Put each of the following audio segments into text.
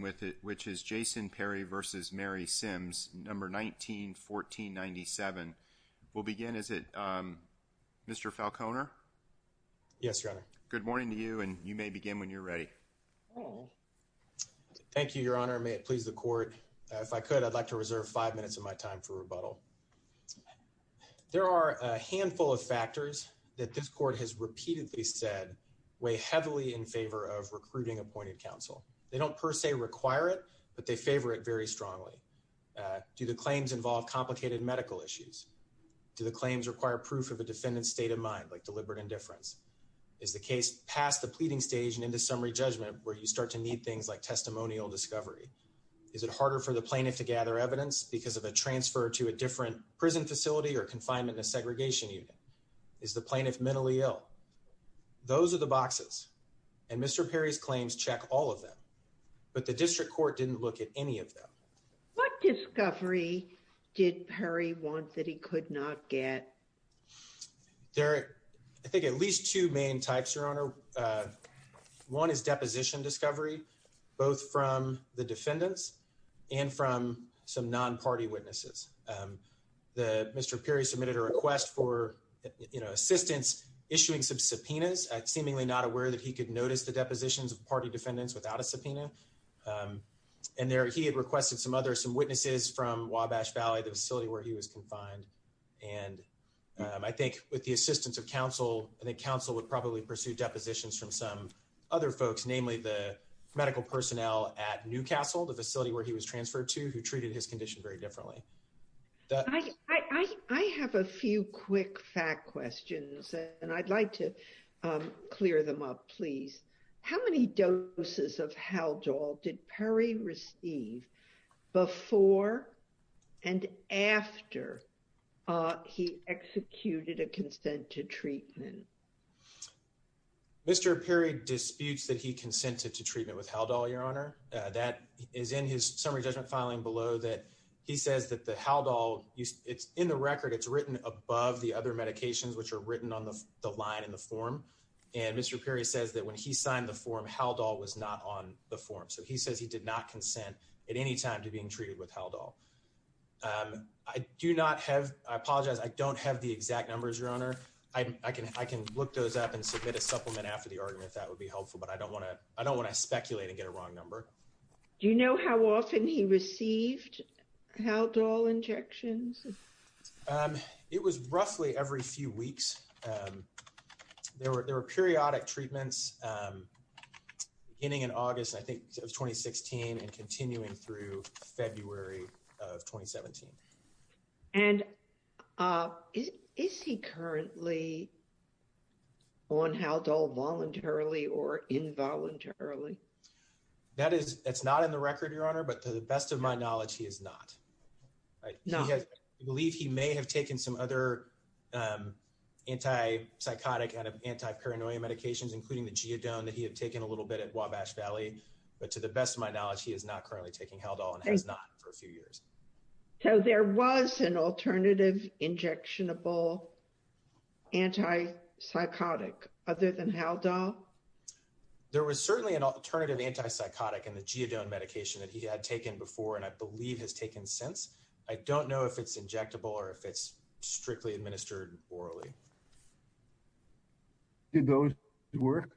No. 19-1497. We'll begin, is it Mr. Falconer? Yes, Your Honor. Good morning to you and you may begin when you're ready. Thank you, Your Honor. May it please the Court. If I could, I'd like to reserve five minutes of my time for rebuttal. There are a handful of factors that this Court has repeatedly said weigh heavily in favor of recruiting appointed counsel. They don't per se require it, but they favor it very strongly. Do the claims involve complicated medical issues? Do the claims require proof of a defendant's state of mind, like deliberate indifference? Is the case past the pleading stage and into summary judgment where you start to need things like testimonial discovery? Is it harder for the plaintiff to gather evidence because of a transfer to a different prison facility or confinement in a segregation unit? Is the plaintiff mentally ill? Those are the boxes, and Mr. Perry's claims check all of them, but the District Court didn't look at any of them. What discovery did Perry want that he could not get? There are, I think, at least two main types, Your Honor. One is deposition discovery, both from the defendants and from some non-party witnesses. Mr. Perry submitted a request for assistance issuing some subpoenas. Seemingly not aware that he could notice the depositions of party defendants without a subpoena. And he had requested some witnesses from Wabash Valley, the facility where he was confined. And I think with the assistance of counsel, I think counsel would probably pursue depositions from some other folks, namely the medical personnel at Newcastle, the facility where he was transferred to, who treated his condition very differently. I have a few quick fact questions, and I'd like to clear them up, please. How many doses of Haldol did Perry receive before and after he executed a consent to treatment? Mr. Perry disputes that he consented to treatment with Haldol, Your Honor. That is in his summary judgment filing below that he says that the Haldol, it's in the record, it's written above the other medications which are written on the line in the form. And Mr. Perry says that when he signed the form, Haldol was not on the form. So he says he did not consent at any time to being treated with Haldol. I do not have, I apologize, I don't have the exact numbers, Your Honor. I can look those up and submit a supplement after the argument if that would be helpful, but I don't want to speculate and get a wrong number. Do you know how often he received Haldol injections? It was roughly every few weeks. There were periodic treatments beginning in August, I think, of 2016 and continuing through February of 2017. And is he currently on Haldol voluntarily or involuntarily? That is, it's not in the record, Your Honor, but to the best of my knowledge, he is not. I believe he may have taken some other anti-psychotic, anti-paranoia medications, including the Geodone that he had taken a little bit at Wabash Valley. But to the best of my knowledge, he is not currently taking Haldol and has not for a few years. So there was an alternative injectionable anti-psychotic other than Haldol? There was certainly an alternative anti-psychotic in the Geodone medication that he had taken before and I believe has taken since. I don't know if it's injectable or if it's strictly administered orally. Did those work?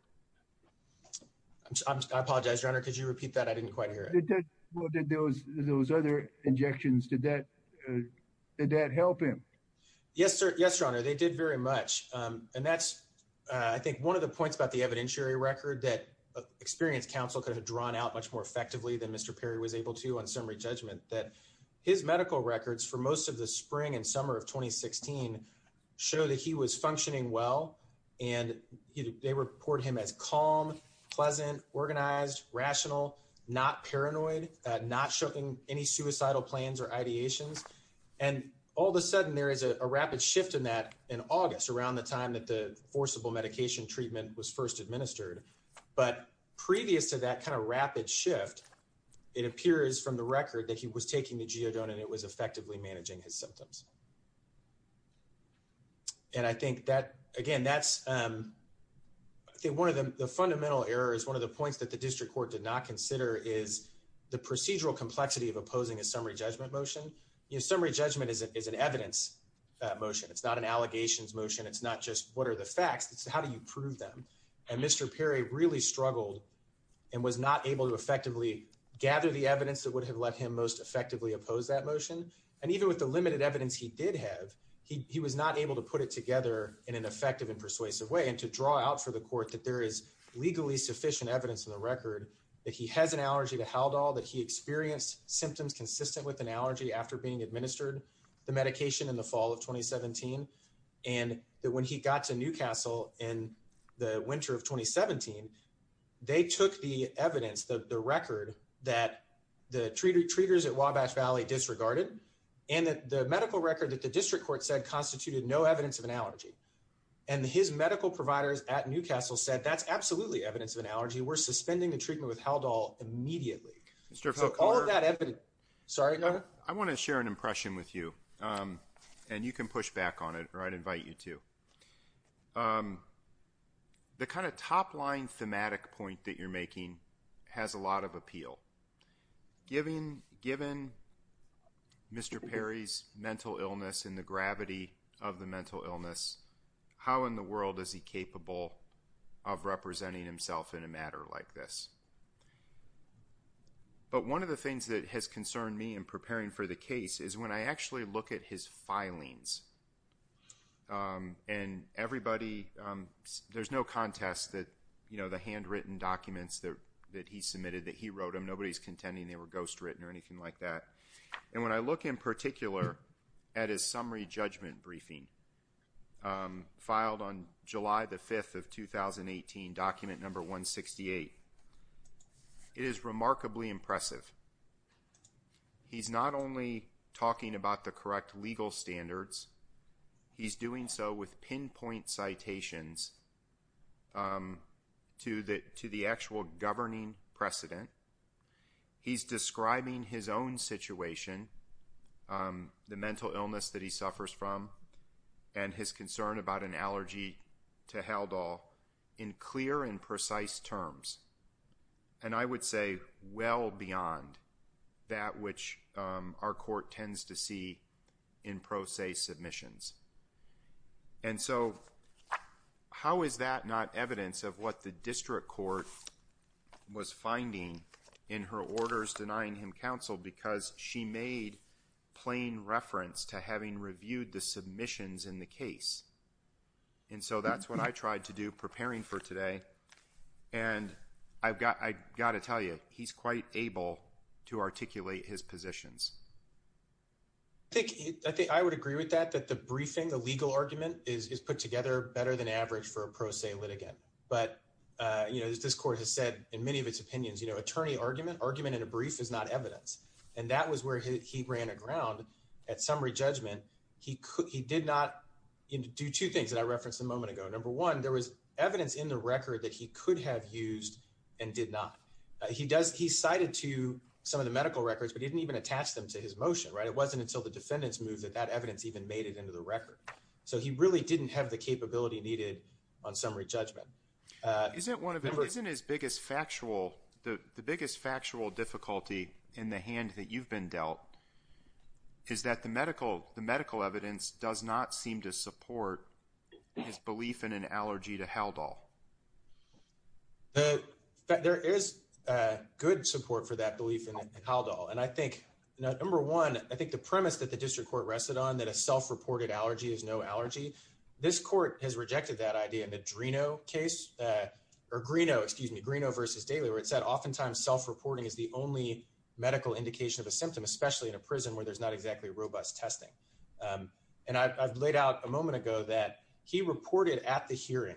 I apologize, Your Honor, could you repeat that? I didn't quite hear it. Those other injections, did that help him? Yes, Your Honor, they did very much. And that's, I think, one of the points about the evidentiary record that experienced counsel could have drawn out much more effectively than Mr. Perry was able to on summary judgment. That his medical records for most of the spring and summer of 2016 show that he was functioning well. And they report him as calm, pleasant, organized, rational, not paranoid, not showing any suicidal plans or ideations. And all of a sudden there is a rapid shift in that in August, around the time that the forcible medication treatment was first administered. But previous to that kind of rapid shift, it appears from the record that he was taking the Geodone and it was effectively managing his symptoms. And I think that, again, that's one of the fundamental errors. One of the points that the district court did not consider is the procedural complexity of opposing a summary judgment motion. Summary judgment is an evidence motion. It's not an allegations motion. It's not just what are the facts, it's how do you prove them? And Mr. Perry really struggled and was not able to effectively gather the evidence that would have let him most effectively oppose that motion. And even with the limited evidence he did have, he was not able to put it together in an effective and persuasive way. And to draw out for the court that there is legally sufficient evidence in the record that he has an allergy to Haldol, that he experienced symptoms consistent with an allergy after being administered the medication in the fall of 2017. And that when he got to Newcastle in the winter of 2017, they took the evidence, the record that the treaters at Wabash Valley disregarded and that the medical record that the district court said constituted no evidence of an allergy. And his medical providers at Newcastle said that's absolutely evidence of an allergy. We're suspending the treatment with Haldol immediately. All of that evidence. Sorry, go ahead. I want to share an impression with you. And you can push back on it or I'd invite you to. The kind of top line thematic point that you're making has a lot of appeal. Given Mr. Perry's mental illness and the gravity of the mental illness, how in the world is he capable of representing himself in a matter like this? But one of the things that has concerned me in preparing for the case is when I actually look at his filings, and everybody, there's no contest that the handwritten documents that he submitted that he wrote them, nobody's contending they were ghostwritten or anything like that. And when I look in particular at his summary judgment briefing filed on July the 5th of 2018, document number 168, it is remarkably impressive. He's not only talking about the correct legal standards, he's doing so with pinpoint citations to the actual governing precedent. He's describing his own situation, the mental illness that he suffers from, and his concern about an allergy to Haldol in clear and precise terms. And I would say well beyond that which our court tends to see in pro se submissions. And so how is that not evidence of what the district court was finding in her orders denying him counsel because she made plain reference to having reviewed the submissions in the case. And so that's what I tried to do preparing for today. And I've got to tell you, he's quite able to articulate his positions. I think I would agree with that, that the briefing, the legal argument is put together better than average for a pro se litigant. But, you know, this court has said in many of its opinions, you know, attorney argument, argument in a brief is not evidence. And that was where he ran aground at summary judgment. He did not do two things that I referenced a moment ago. Number one, there was evidence in the record that he could have used and did not. He does he cited to some of the medical records, but he didn't even attach them to his motion. Right. It wasn't until the defendants moved that that evidence even made it into the record. So he really didn't have the capability needed on summary judgment. Isn't one of them isn't his biggest factual the biggest factual difficulty in the hand that you've been dealt? Is that the medical the medical evidence does not seem to support his belief in an allergy to held all. There is good support for that belief in Haldol. And I think number one, I think the premise that the district court rested on that a self-reported allergy is no allergy. This court has rejected that idea. In the Drino case or Greeno, excuse me, Greeno versus daily where it said oftentimes self-reporting is the only medical indication of a symptom, especially in a prison where there's not exactly robust testing. And I've laid out a moment ago that he reported at the hearing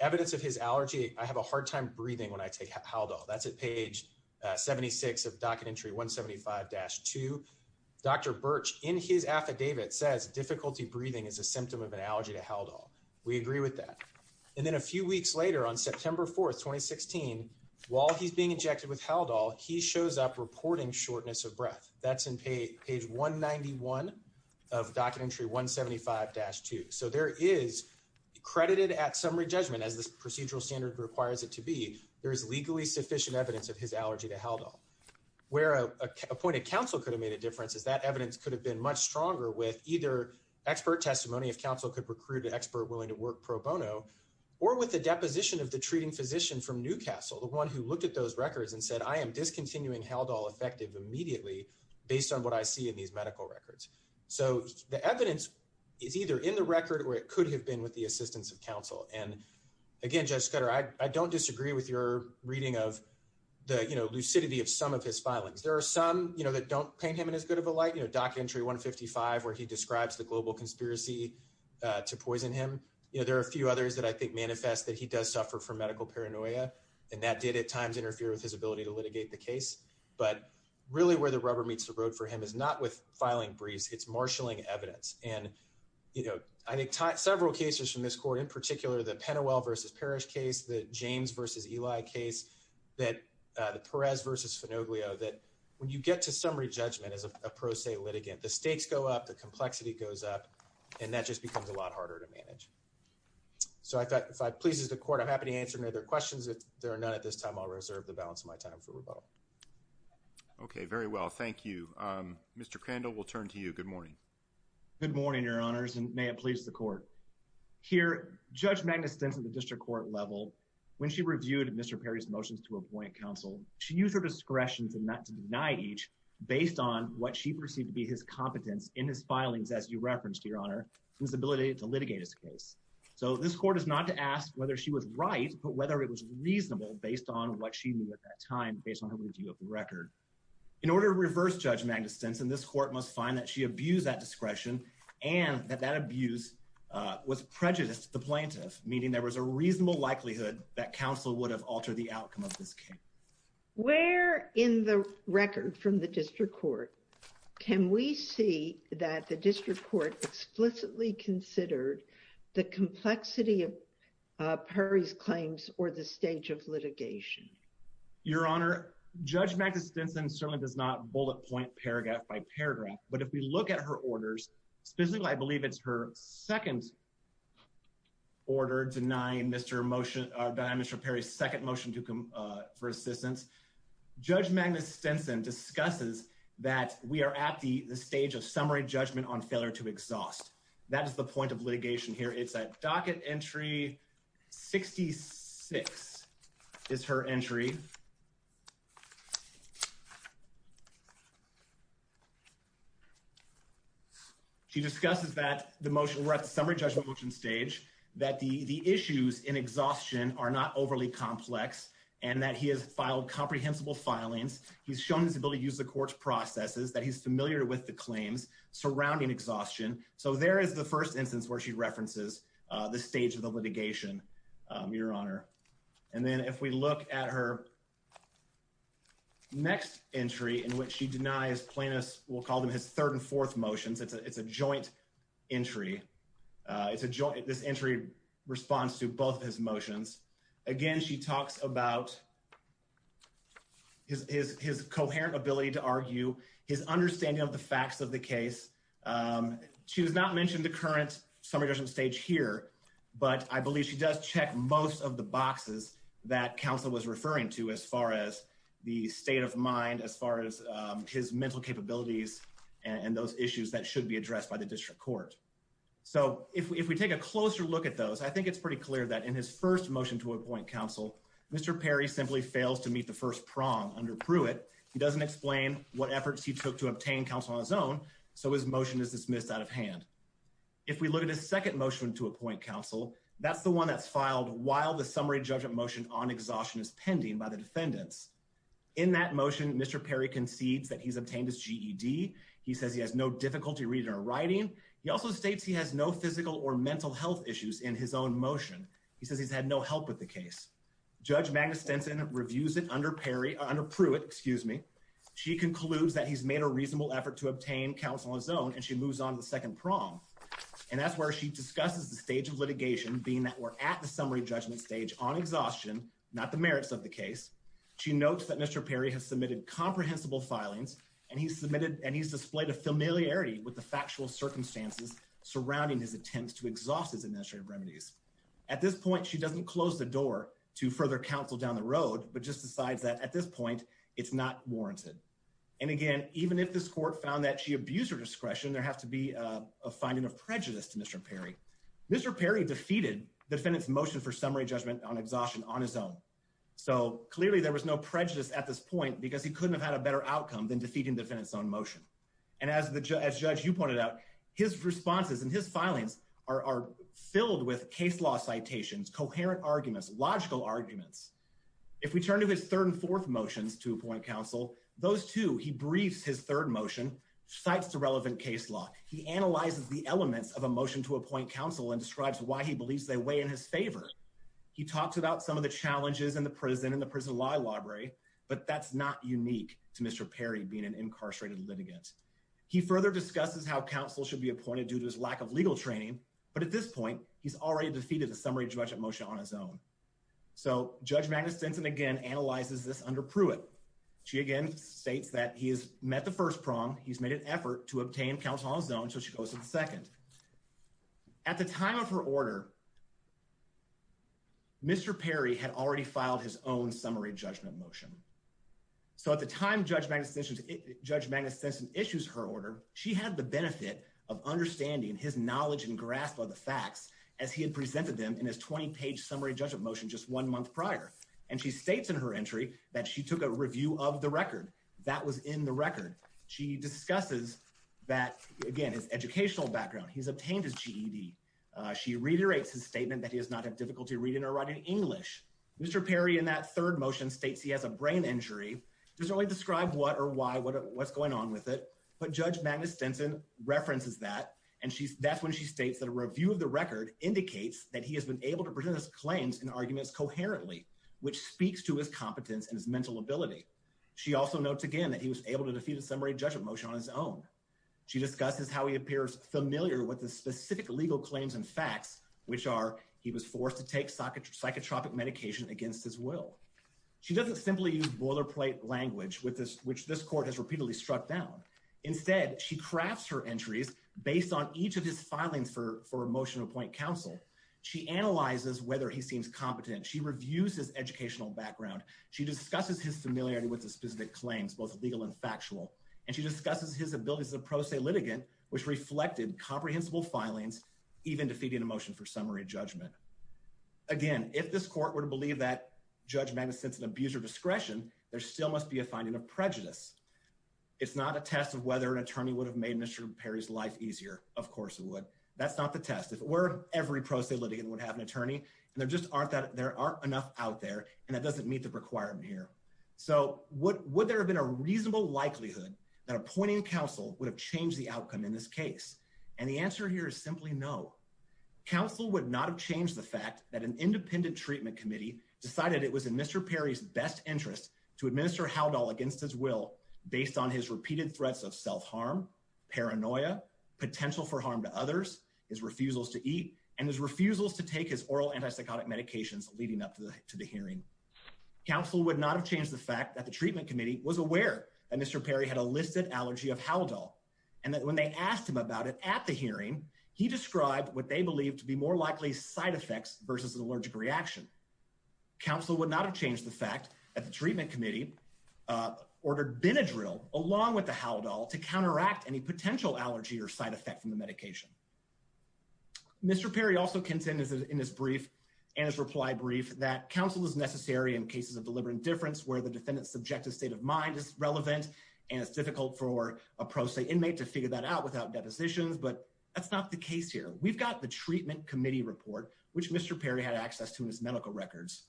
evidence of his allergy. I have a hard time breathing when I take Haldol. That's at page 76 of docket entry one seventy five dash to Dr. Birch in his affidavit says difficulty breathing is a symptom of an allergy to Haldol. We agree with that. And then a few weeks later, on September 4th, 2016, while he's being injected with Haldol, he shows up reporting shortness of breath. That's in page one ninety one of docket entry one seventy five dash two. So there is credited at summary judgment as this procedural standard requires it to be. There is legally sufficient evidence of his allergy to Haldol where appointed counsel could have made a difference. As that evidence could have been much stronger with either expert testimony, if counsel could recruit an expert willing to work pro bono or with the deposition of the treating physician from Newcastle. The one who looked at those records and said, I am discontinuing Haldol effective immediately based on what I see in these medical records. So the evidence is either in the record or it could have been with the assistance of counsel. And again, Judge Scudder, I don't disagree with your reading of the lucidity of some of his filings. There are some that don't paint him in as good of a light, doc entry one fifty five, where he describes the global conspiracy to poison him. There are a few others that I think manifest that he does suffer from medical paranoia and that did at times interfere with his ability to litigate the case. But really where the rubber meets the road for him is not with filing briefs. It's marshalling evidence. And, you know, I think several cases from this court in particular, the Penwell versus Parrish case, the James versus Eli case, that the Perez versus Finoglio, that when you get to summary judgment as a pro se litigant, the stakes go up, the complexity goes up and that just becomes a lot harder to manage. So I thought if I pleases the court, I'm happy to answer their questions. If there are none at this time, I'll reserve the balance of my time for rebuttal. OK, very well, thank you. Mr. Crandall, we'll turn to you. Good morning. Good morning, your honors, and may it please the court here. Judge Magnus, since the district court level, when she reviewed Mr. Perry's motions to appoint counsel, she used her discretion to not deny each based on what she perceived to be his competence in his filings. As you referenced, your honor, his ability to litigate his case. So this court is not to ask whether she was right, but whether it was reasonable based on what she knew at that time, based on her review of the record. In order to reverse Judge Magnus' sense, and this court must find that she abused that discretion and that that abuse was prejudiced to the plaintiff, meaning there was a reasonable likelihood that counsel would have altered the outcome of this case. Where in the record from the district court can we see that the district court explicitly considered the complexity of Perry's claims or the stage of litigation? Your honor, Judge Magnus Stinson certainly does not bullet point paragraph by paragraph. But if we look at her orders, specifically, I believe it's her second order denying Mr. Perry's second motion for assistance. Judge Magnus Stinson discusses that we are at the stage of summary judgment on failure to exhaust. That is the point of litigation here. It's a docket entry. Sixty six is her entry. She discusses that the motion we're at the summary judgment motion stage, that the issues in exhaustion are not overly complex and that he has filed comprehensible filings. He's shown his ability to use the court's processes, that he's familiar with the claims surrounding exhaustion. So there is the first instance where she references the stage of the litigation, your honor. And then if we look at her next entry in which she denies plaintiffs, we'll call them his third and fourth motions. It's a it's a joint entry. It's a joint. This entry responds to both his motions. Again, she talks about his his his coherent ability to argue his understanding of the facts of the case. She does not mention the current summary judgment stage here, but I believe she does check most of the boxes that counsel was referring to as far as the state of mind, as far as his mental capabilities and those issues that should be addressed by the district court. So if we take a closer look at those, I think it's pretty clear that in his first motion to appoint counsel, Mr. Perry simply fails to meet the first prong under Pruitt. He doesn't explain what efforts he took to obtain counsel on his own. So his motion is dismissed out of hand. If we look at his second motion to appoint counsel, that's the one that's filed while the summary judgment motion on exhaustion is pending by the defendants. In that motion, Mr. Perry concedes that he's obtained his GED. He says he has no difficulty reading or writing. He also states he has no physical or mental health issues in his own motion. He says he's had no help with the case. Judge Magna Stinson reviews it under Perry under Pruitt. Excuse me. She concludes that he's made a reasonable effort to obtain counsel on his own, and she moves on to the second prong. And that's where she discusses the stage of litigation, being that we're at the summary judgment stage on exhaustion, not the merits of the case. She notes that Mr. Perry has submitted comprehensible filings, and he's submitted and he's displayed a familiarity with the factual circumstances surrounding his attempts to exhaust his administrative remedies. At this point, she doesn't close the door to further counsel down the road, but just decides that at this point, it's not warranted. And again, even if this court found that she abused her discretion, there has to be a finding of prejudice to Mr. Perry. Mr. Perry defeated defendants motion for summary judgment on exhaustion on his own. So clearly there was no prejudice at this point because he couldn't have had a better outcome than defeating defendants on motion. And as the judge, you pointed out, his responses and his filings are filled with case law citations, coherent arguments, logical arguments. If we turn to his third and fourth motions to appoint counsel, those two, he briefs his third motion, cites the relevant case law. He analyzes the elements of a motion to appoint counsel and describes why he believes they weigh in his favor. He talks about some of the challenges in the prison and the prison law library. But that's not unique to Mr. Perry being an incarcerated litigant. He further discusses how counsel should be appointed due to his lack of legal training. But at this point, he's already defeated the summary judgment motion on his own. So Judge Magnuson again analyzes this under Pruitt. She again states that he has met the first prong. He's made an effort to obtain counsel on his own. So she goes to the second. At the time of her order, Mr. Perry had already filed his own summary judgment motion. So at the time Judge Magnuson issues her order, she had the benefit of understanding his knowledge and grasp of the facts as he had presented them in his 20-page summary judgment motion just one month prior. And she states in her entry that she took a review of the record. That was in the record. She discusses that, again, his educational background. He's obtained his GED. She reiterates his statement that he does not have difficulty reading or writing English. Mr. Perry in that third motion states he has a brain injury. Doesn't really describe what or why, what's going on with it. But Judge Magnuson references that. And that's when she states that a review of the record indicates that he has been able to present his claims and arguments coherently, which speaks to his competence and his mental ability. She also notes, again, that he was able to defeat a summary judgment motion on his own. She discusses how he appears familiar with the specific legal claims and facts, which are he was forced to take psychotropic medication against his will. She doesn't simply use boilerplate language, which this court has repeatedly struck down. Instead, she crafts her entries based on each of his filings for a motion to appoint counsel. She analyzes whether he seems competent. She reviews his educational background. She discusses his familiarity with the specific claims, both legal and factual. And she discusses his abilities as a pro se litigant, which reflected comprehensible filings, even defeating a motion for summary judgment. Again, if this court were to believe that Judge Magnuson is an abuser of discretion, there still must be a finding of prejudice. It's not a test of whether an attorney would have made Mr. Perry's life easier. Of course it would. That's not the test. If it were, every pro se litigant would have an attorney, and there just aren't enough out there, and that doesn't meet the requirement here. So would there have been a reasonable likelihood that appointing counsel would have changed the outcome in this case? And the answer here is simply no. Counsel would not have changed the fact that an independent treatment committee decided it was in Mr. Perry's best interest to administer Haldol against his will based on his repeated threats of self-harm, paranoia, potential for harm to others, his refusals to eat, and his refusals to take his oral antipsychotic medications leading up to the hearing. Counsel would not have changed the fact that the treatment committee was aware that Mr. Perry had a listed allergy of Haldol, and that when they asked him about it at the hearing, he described what they believed to be more likely side effects versus an allergic reaction. Counsel would not have changed the fact that the treatment committee ordered Benadryl along with the Haldol to counteract any potential allergy or side effect from the medication. Mr. Perry also contended in his brief and his reply brief that counsel is necessary in cases of deliberate indifference where the defendant's subjective state of mind is relevant and it's difficult for a pro se inmate to figure that out without depositions, but that's not the case here. We've got the treatment committee report, which Mr. Perry had access to in his medical records.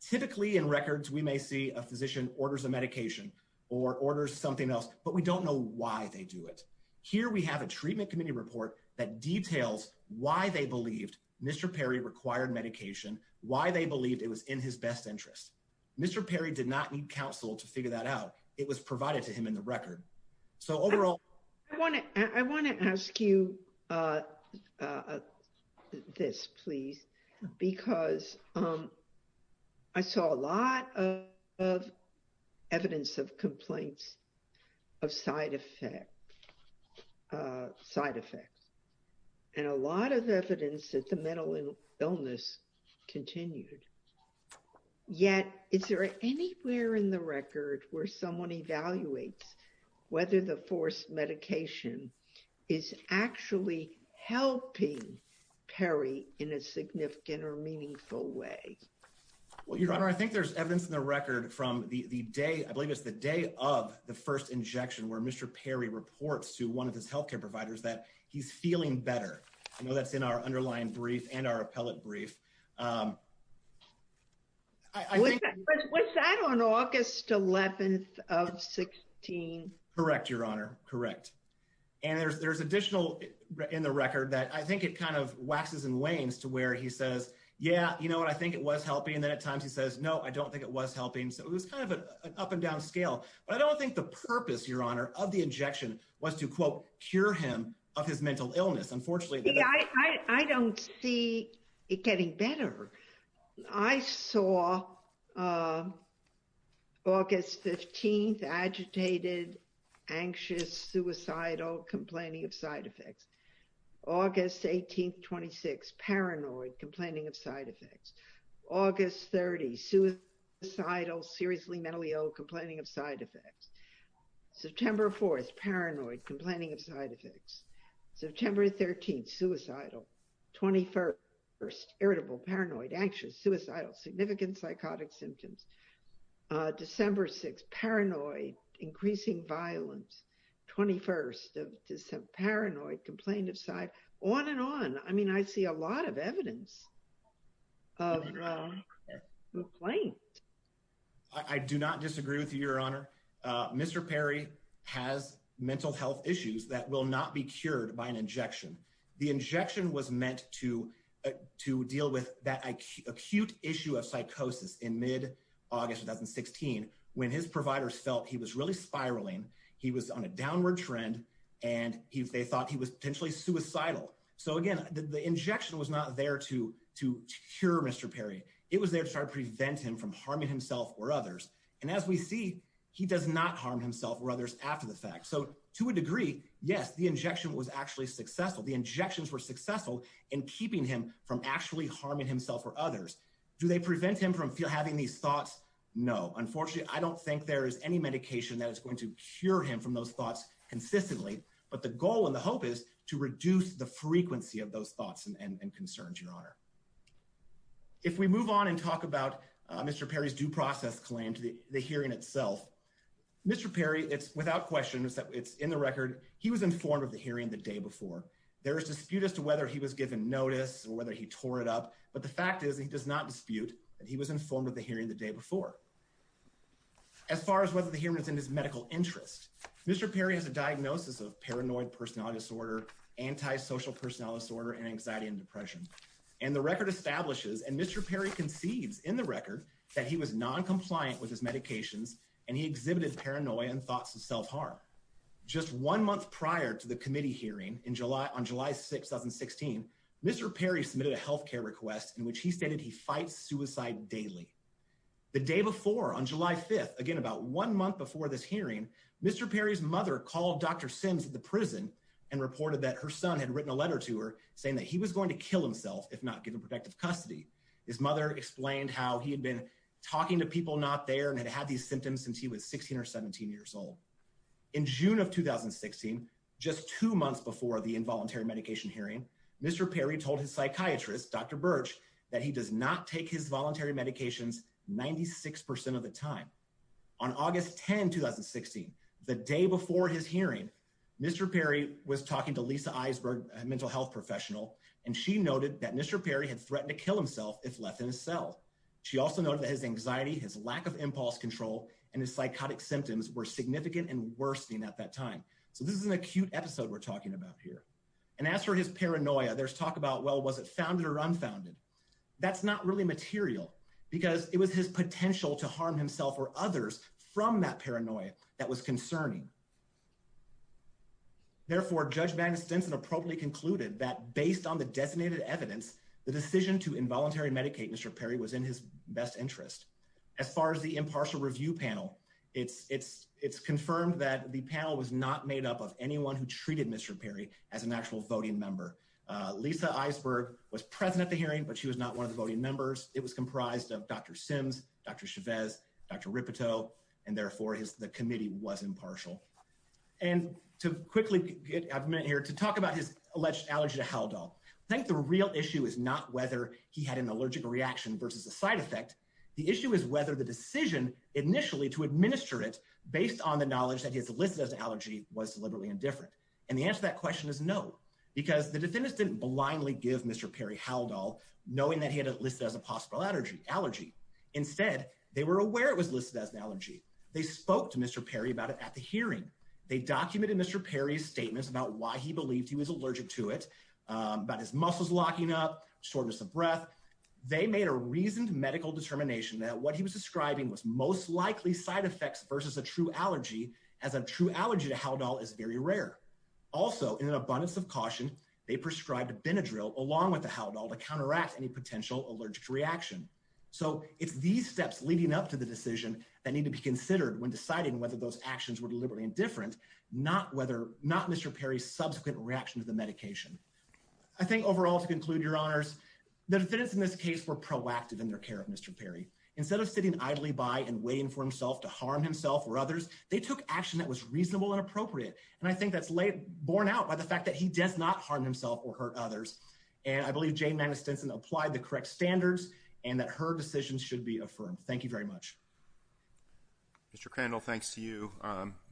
Typically in records, we may see a physician orders a medication or orders something else, but we don't know why they do it. Here we have a treatment committee report that details why they believed Mr. Perry required medication, why they believed it was in his best interest. Mr. Perry did not need counsel to figure that out. It was provided to him in the record. So overall, I want to, I want to ask you this, please, because I saw a lot of evidence of complaints of side effects, side effects, and a lot of evidence that the mental illness continued. Yet, is there anywhere in the record where someone evaluates whether the forced medication is actually helping Perry in a significant or meaningful way? Well, your honor, I think there's evidence in the record from the day I believe it's the day of the first injection where Mr. Perry reports to one of his health care providers that he's feeling better. I know that's in our underlying brief and our appellate brief. Was that on August 11th of 16? Correct, your honor. Correct. And there's, there's additional in the record that I think it kind of waxes and wanes to where he says, yeah, you know what, I think it was helping. And then at times he says, no, I don't think it was helping. So it was kind of an up and down scale, but I don't think the purpose, your honor, of the injection was to quote, cure him of his mental illness, unfortunately. I don't see it getting better. I saw August 15th, agitated, anxious, suicidal, complaining of side effects. August 18th, 26th, paranoid, complaining of side effects. August 30th, suicidal, seriously mentally ill, complaining of side effects. September 4th, paranoid, complaining of side effects. September 13th, suicidal, 21st, irritable, paranoid, anxious, suicidal, significant psychotic symptoms. December 6th, paranoid, increasing violence, 21st of December, paranoid, complained of side, on and on. I mean, I see a lot of evidence of complaints. I do not disagree with you, your honor. Mr. Perry has mental health issues that will not be cured by an injection. The injection was meant to deal with that acute issue of psychosis in mid-August 2016, when his providers felt he was really spiraling. He was on a downward trend, and they thought he was potentially suicidal. So again, the injection was not there to cure Mr. Perry. It was there to try to prevent him from harming himself or others. And as we see, he does not harm himself or others after the fact. So to a degree, yes, the injection was actually successful. The injections were successful in keeping him from actually harming himself or others. Do they prevent him from having these thoughts? No. Unfortunately, I don't think there is any medication that is going to cure him from those thoughts consistently. But the goal and the hope is to reduce the frequency of those thoughts and concerns, your honor. If we move on and talk about Mr. Perry's due process claim to the hearing itself, Mr. Perry, it's without question, it's in the record, he was informed of the hearing the day before. There is dispute as to whether he was given notice or whether he tore it up. But the fact is, he does not dispute that he was informed of the hearing the day before. As far as whether the hearing is in his medical interest, Mr. Perry has a diagnosis of paranoid personality disorder, antisocial personality disorder, and anxiety and depression. And the record establishes, and Mr. Perry concedes in the record, that he was noncompliant with his medications and he exhibited paranoia and thoughts of self-harm. Just one month prior to the committee hearing on July 6, 2016, Mr. Perry submitted a health care request in which he stated he fights suicide daily. The day before, on July 5th, again about one month before this hearing, Mr. Perry's mother called Dr. Sims at the prison and reported that her son had written a letter to her saying that he was going to kill himself if not given protective custody. His mother explained how he had been talking to people not there and had had these symptoms since he was 16 or 17 years old. In June of 2016, just two months before the involuntary medication hearing, Mr. Perry told his psychiatrist, Dr. Birch, that he does not take his voluntary medications 96% of the time. On August 10, 2016, the day before his hearing, Mr. Perry was talking to Lisa Eisberg, a mental health professional, and she noted that Mr. Perry had threatened to kill himself if left in his cell. She also noted that his anxiety, his lack of impulse control, and his psychotic symptoms were significant and worsening at that time. So this is an acute episode we're talking about here. And as for his paranoia, there's talk about, well, was it founded or unfounded? That's not really material because it was his potential to harm himself or others from that paranoia that was concerning. Therefore, Judge Magnus Stinson appropriately concluded that based on the designated evidence, the decision to involuntary medicate Mr. Perry was in his best interest. As far as the impartial review panel, it's confirmed that the panel was not made up of anyone who treated Mr. Perry as an actual voting member. Lisa Eisberg was present at the hearing, but she was not one of the voting members. It was comprised of Dr. Sims, Dr. Chavez, Dr. Ripito, and therefore the committee was impartial. And to quickly get a minute here to talk about his alleged allergy to Haldol, I think the real issue is not whether he had an allergic reaction versus a side effect. The issue is whether the decision initially to administer it, based on the knowledge that he is listed as an allergy, was deliberately indifferent. And the answer to that question is no, because the defendants didn't blindly give Mr. Perry Haldol knowing that he had listed as a possible allergy. Instead, they were aware it was listed as an allergy. They spoke to Mr. Perry about it at the hearing. They documented Mr. Perry's statements about why he believed he was allergic to it, about his muscles locking up, shortness of breath. They made a reasoned medical determination that what he was describing was most likely side effects versus a true allergy, as a true allergy to Haldol is very rare. Also, in an abundance of caution, they prescribed Benadryl along with the Haldol to counteract any potential allergic reaction. So it's these steps leading up to the decision that need to be considered when deciding whether those actions were deliberately indifferent, not Mr. Perry's subsequent reaction to the medication. I think overall, to conclude, Your Honors, the defendants in this case were proactive in their care of Mr. Perry. Instead of sitting idly by and waiting for himself to harm himself or others, they took action that was reasonable and appropriate. And I think that's borne out by the fact that he does not harm himself or hurt others. And I believe Jane Magnus-Denson applied the correct standards and that her decisions should be affirmed. Thank you very much. Mr. Crandall, thanks to you.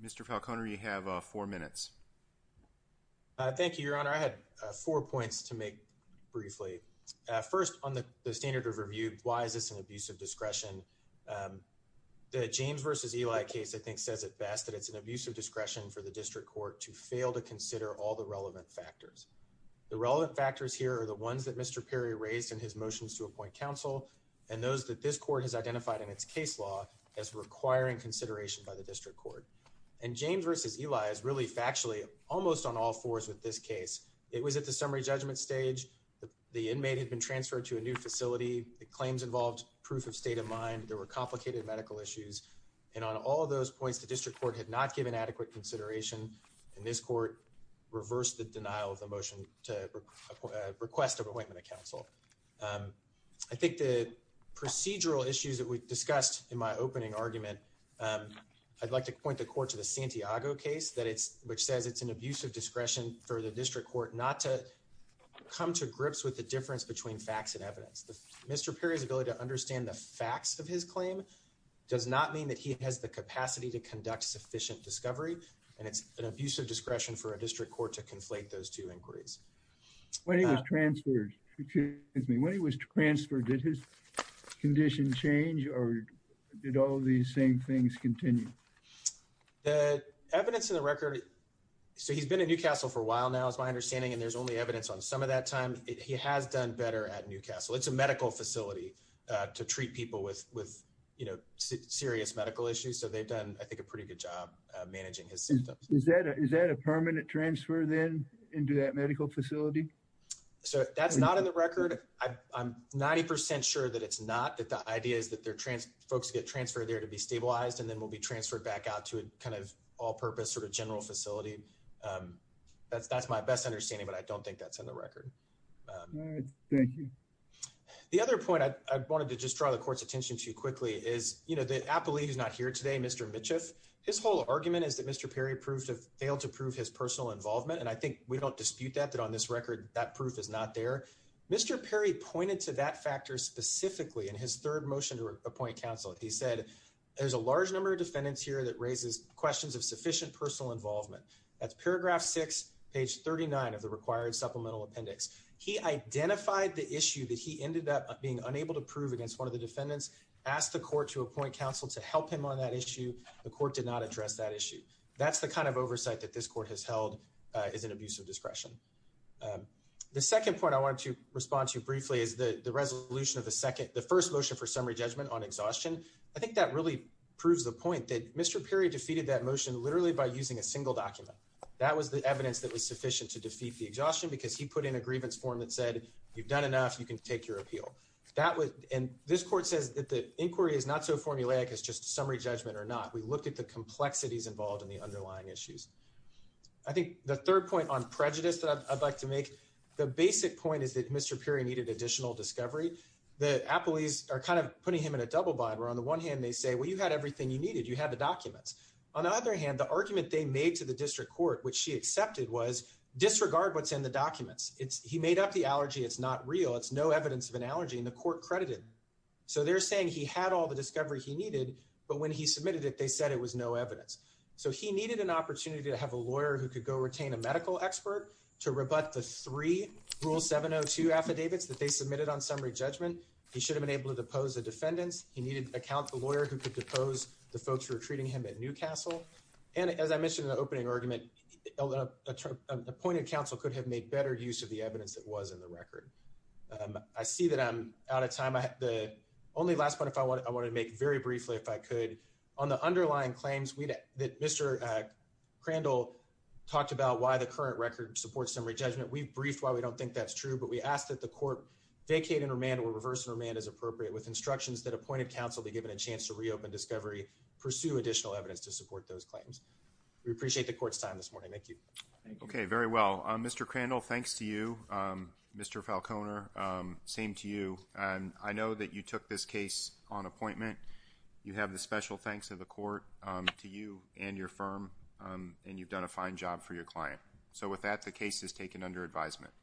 Mr. Falcone, you have four minutes. Thank you, Your Honor. I had four points to make briefly. The first is that in the James v. Eli case, I think says it best that it's an abusive discretion for the district court to fail to consider all the relevant factors. The relevant factors here are the ones that Mr. Perry raised in his motions to appoint counsel and those that this court has identified in its case law as requiring consideration by the district court. And James v. Eli is really factually almost on all fours with this case. It was at the summary judgment stage. The inmate had been transferred to a new facility. The claims involved proof of state of mind. There were complicated medical issues. And on all of those points, the district court had not given adequate consideration. And this court reversed the denial of the motion to request an appointment of counsel. I think the procedural issues that we discussed in my opening argument, I'd like to point the court to the Santiago case, which says it's an abusive discretion for the district court not to come to grips with the difference between facts and evidence. Mr. Perry's ability to understand the facts of his claim does not mean that he has the capacity to conduct sufficient discovery. And it's an abusive discretion for a district court to conflate those two inquiries. When he was transferred, did his condition change or did all these same things continue? The evidence in the record, so he's been in Newcastle for a while now is my understanding, and there's only evidence on some of that time. He has done better at Newcastle. It's a medical facility to treat people with serious medical issues. So they've done, I think, a pretty good job managing his system. Is that a permanent transfer then into that medical facility? So that's not in the record. I'm 90 percent sure that it's not that the idea is that they're folks get transferred there to be stabilized and then will be transferred back out to a kind of all purpose sort of general facility. That's my best understanding, but I don't think that's in the record. Thank you. The other point I wanted to just draw the court's attention to quickly is, you know, the appellee is not here today, Mr. Mitchiff. His whole argument is that Mr. Perry proved to fail to prove his personal involvement. And I think we don't dispute that, that on this record, that proof is not there. Mr. Perry pointed to that factor specifically in his third motion to appoint counsel. He said there's a large number of defendants here that raises questions of sufficient personal involvement. That's paragraph six, page 39 of the required supplemental appendix. He identified the issue that he ended up being unable to prove against one of the defendants, asked the court to appoint counsel to help him on that issue. The court did not address that issue. That's the kind of oversight that this court has held is an abuse of discretion. The second point I wanted to respond to briefly is the resolution of the first motion for summary judgment on exhaustion. I think that really proves the point that Mr. Perry defeated that motion literally by using a single document. That was the evidence that was sufficient to defeat the exhaustion because he put in a grievance form that said, you've done enough, you can take your appeal. And this court says that the inquiry is not so formulaic as just summary judgment or not. We looked at the complexities involved in the underlying issues. I think the third point on prejudice that I'd like to make, the basic point is that Mr. Perry needed additional discovery. The appellees are kind of putting him in a double bind where, on the one hand, they say, well, you had everything you needed. You had the documents. On the other hand, the argument they made to the district court, which she accepted, was disregard what's in the documents. He made up the allergy. It's not real. It's no evidence of an allergy, and the court credited him. So they're saying he had all the discovery he needed, but when he submitted it, they said it was no evidence. So he needed an opportunity to have a lawyer who could go retain a medical expert to rebut the three Rule 702 affidavits that they submitted on summary judgment. He should have been able to depose the defendants. He needed to account the lawyer who could depose the folks who were treating him at Newcastle. And as I mentioned in the opening argument, appointed counsel could have made better use of the evidence that was in the record. I see that I'm out of time. The only last point I want to make very briefly, if I could, on the underlying claims that Mr. Crandall talked about why the current record supports summary judgment. We've briefed why we don't think that's true, but we ask that the court vacate and remand or reverse and remand as appropriate, with instructions that appointed counsel be given a chance to reopen discovery, pursue additional evidence to support those claims. We appreciate the court's time this morning. Thank you. Okay, very well. Mr. Crandall, thanks to you. Mr. Falconer, same to you. I know that you took this case on appointment. You have the special thanks of the court to you and your firm, and you've done a fine job for your client. So with that, the case is taken under advisement.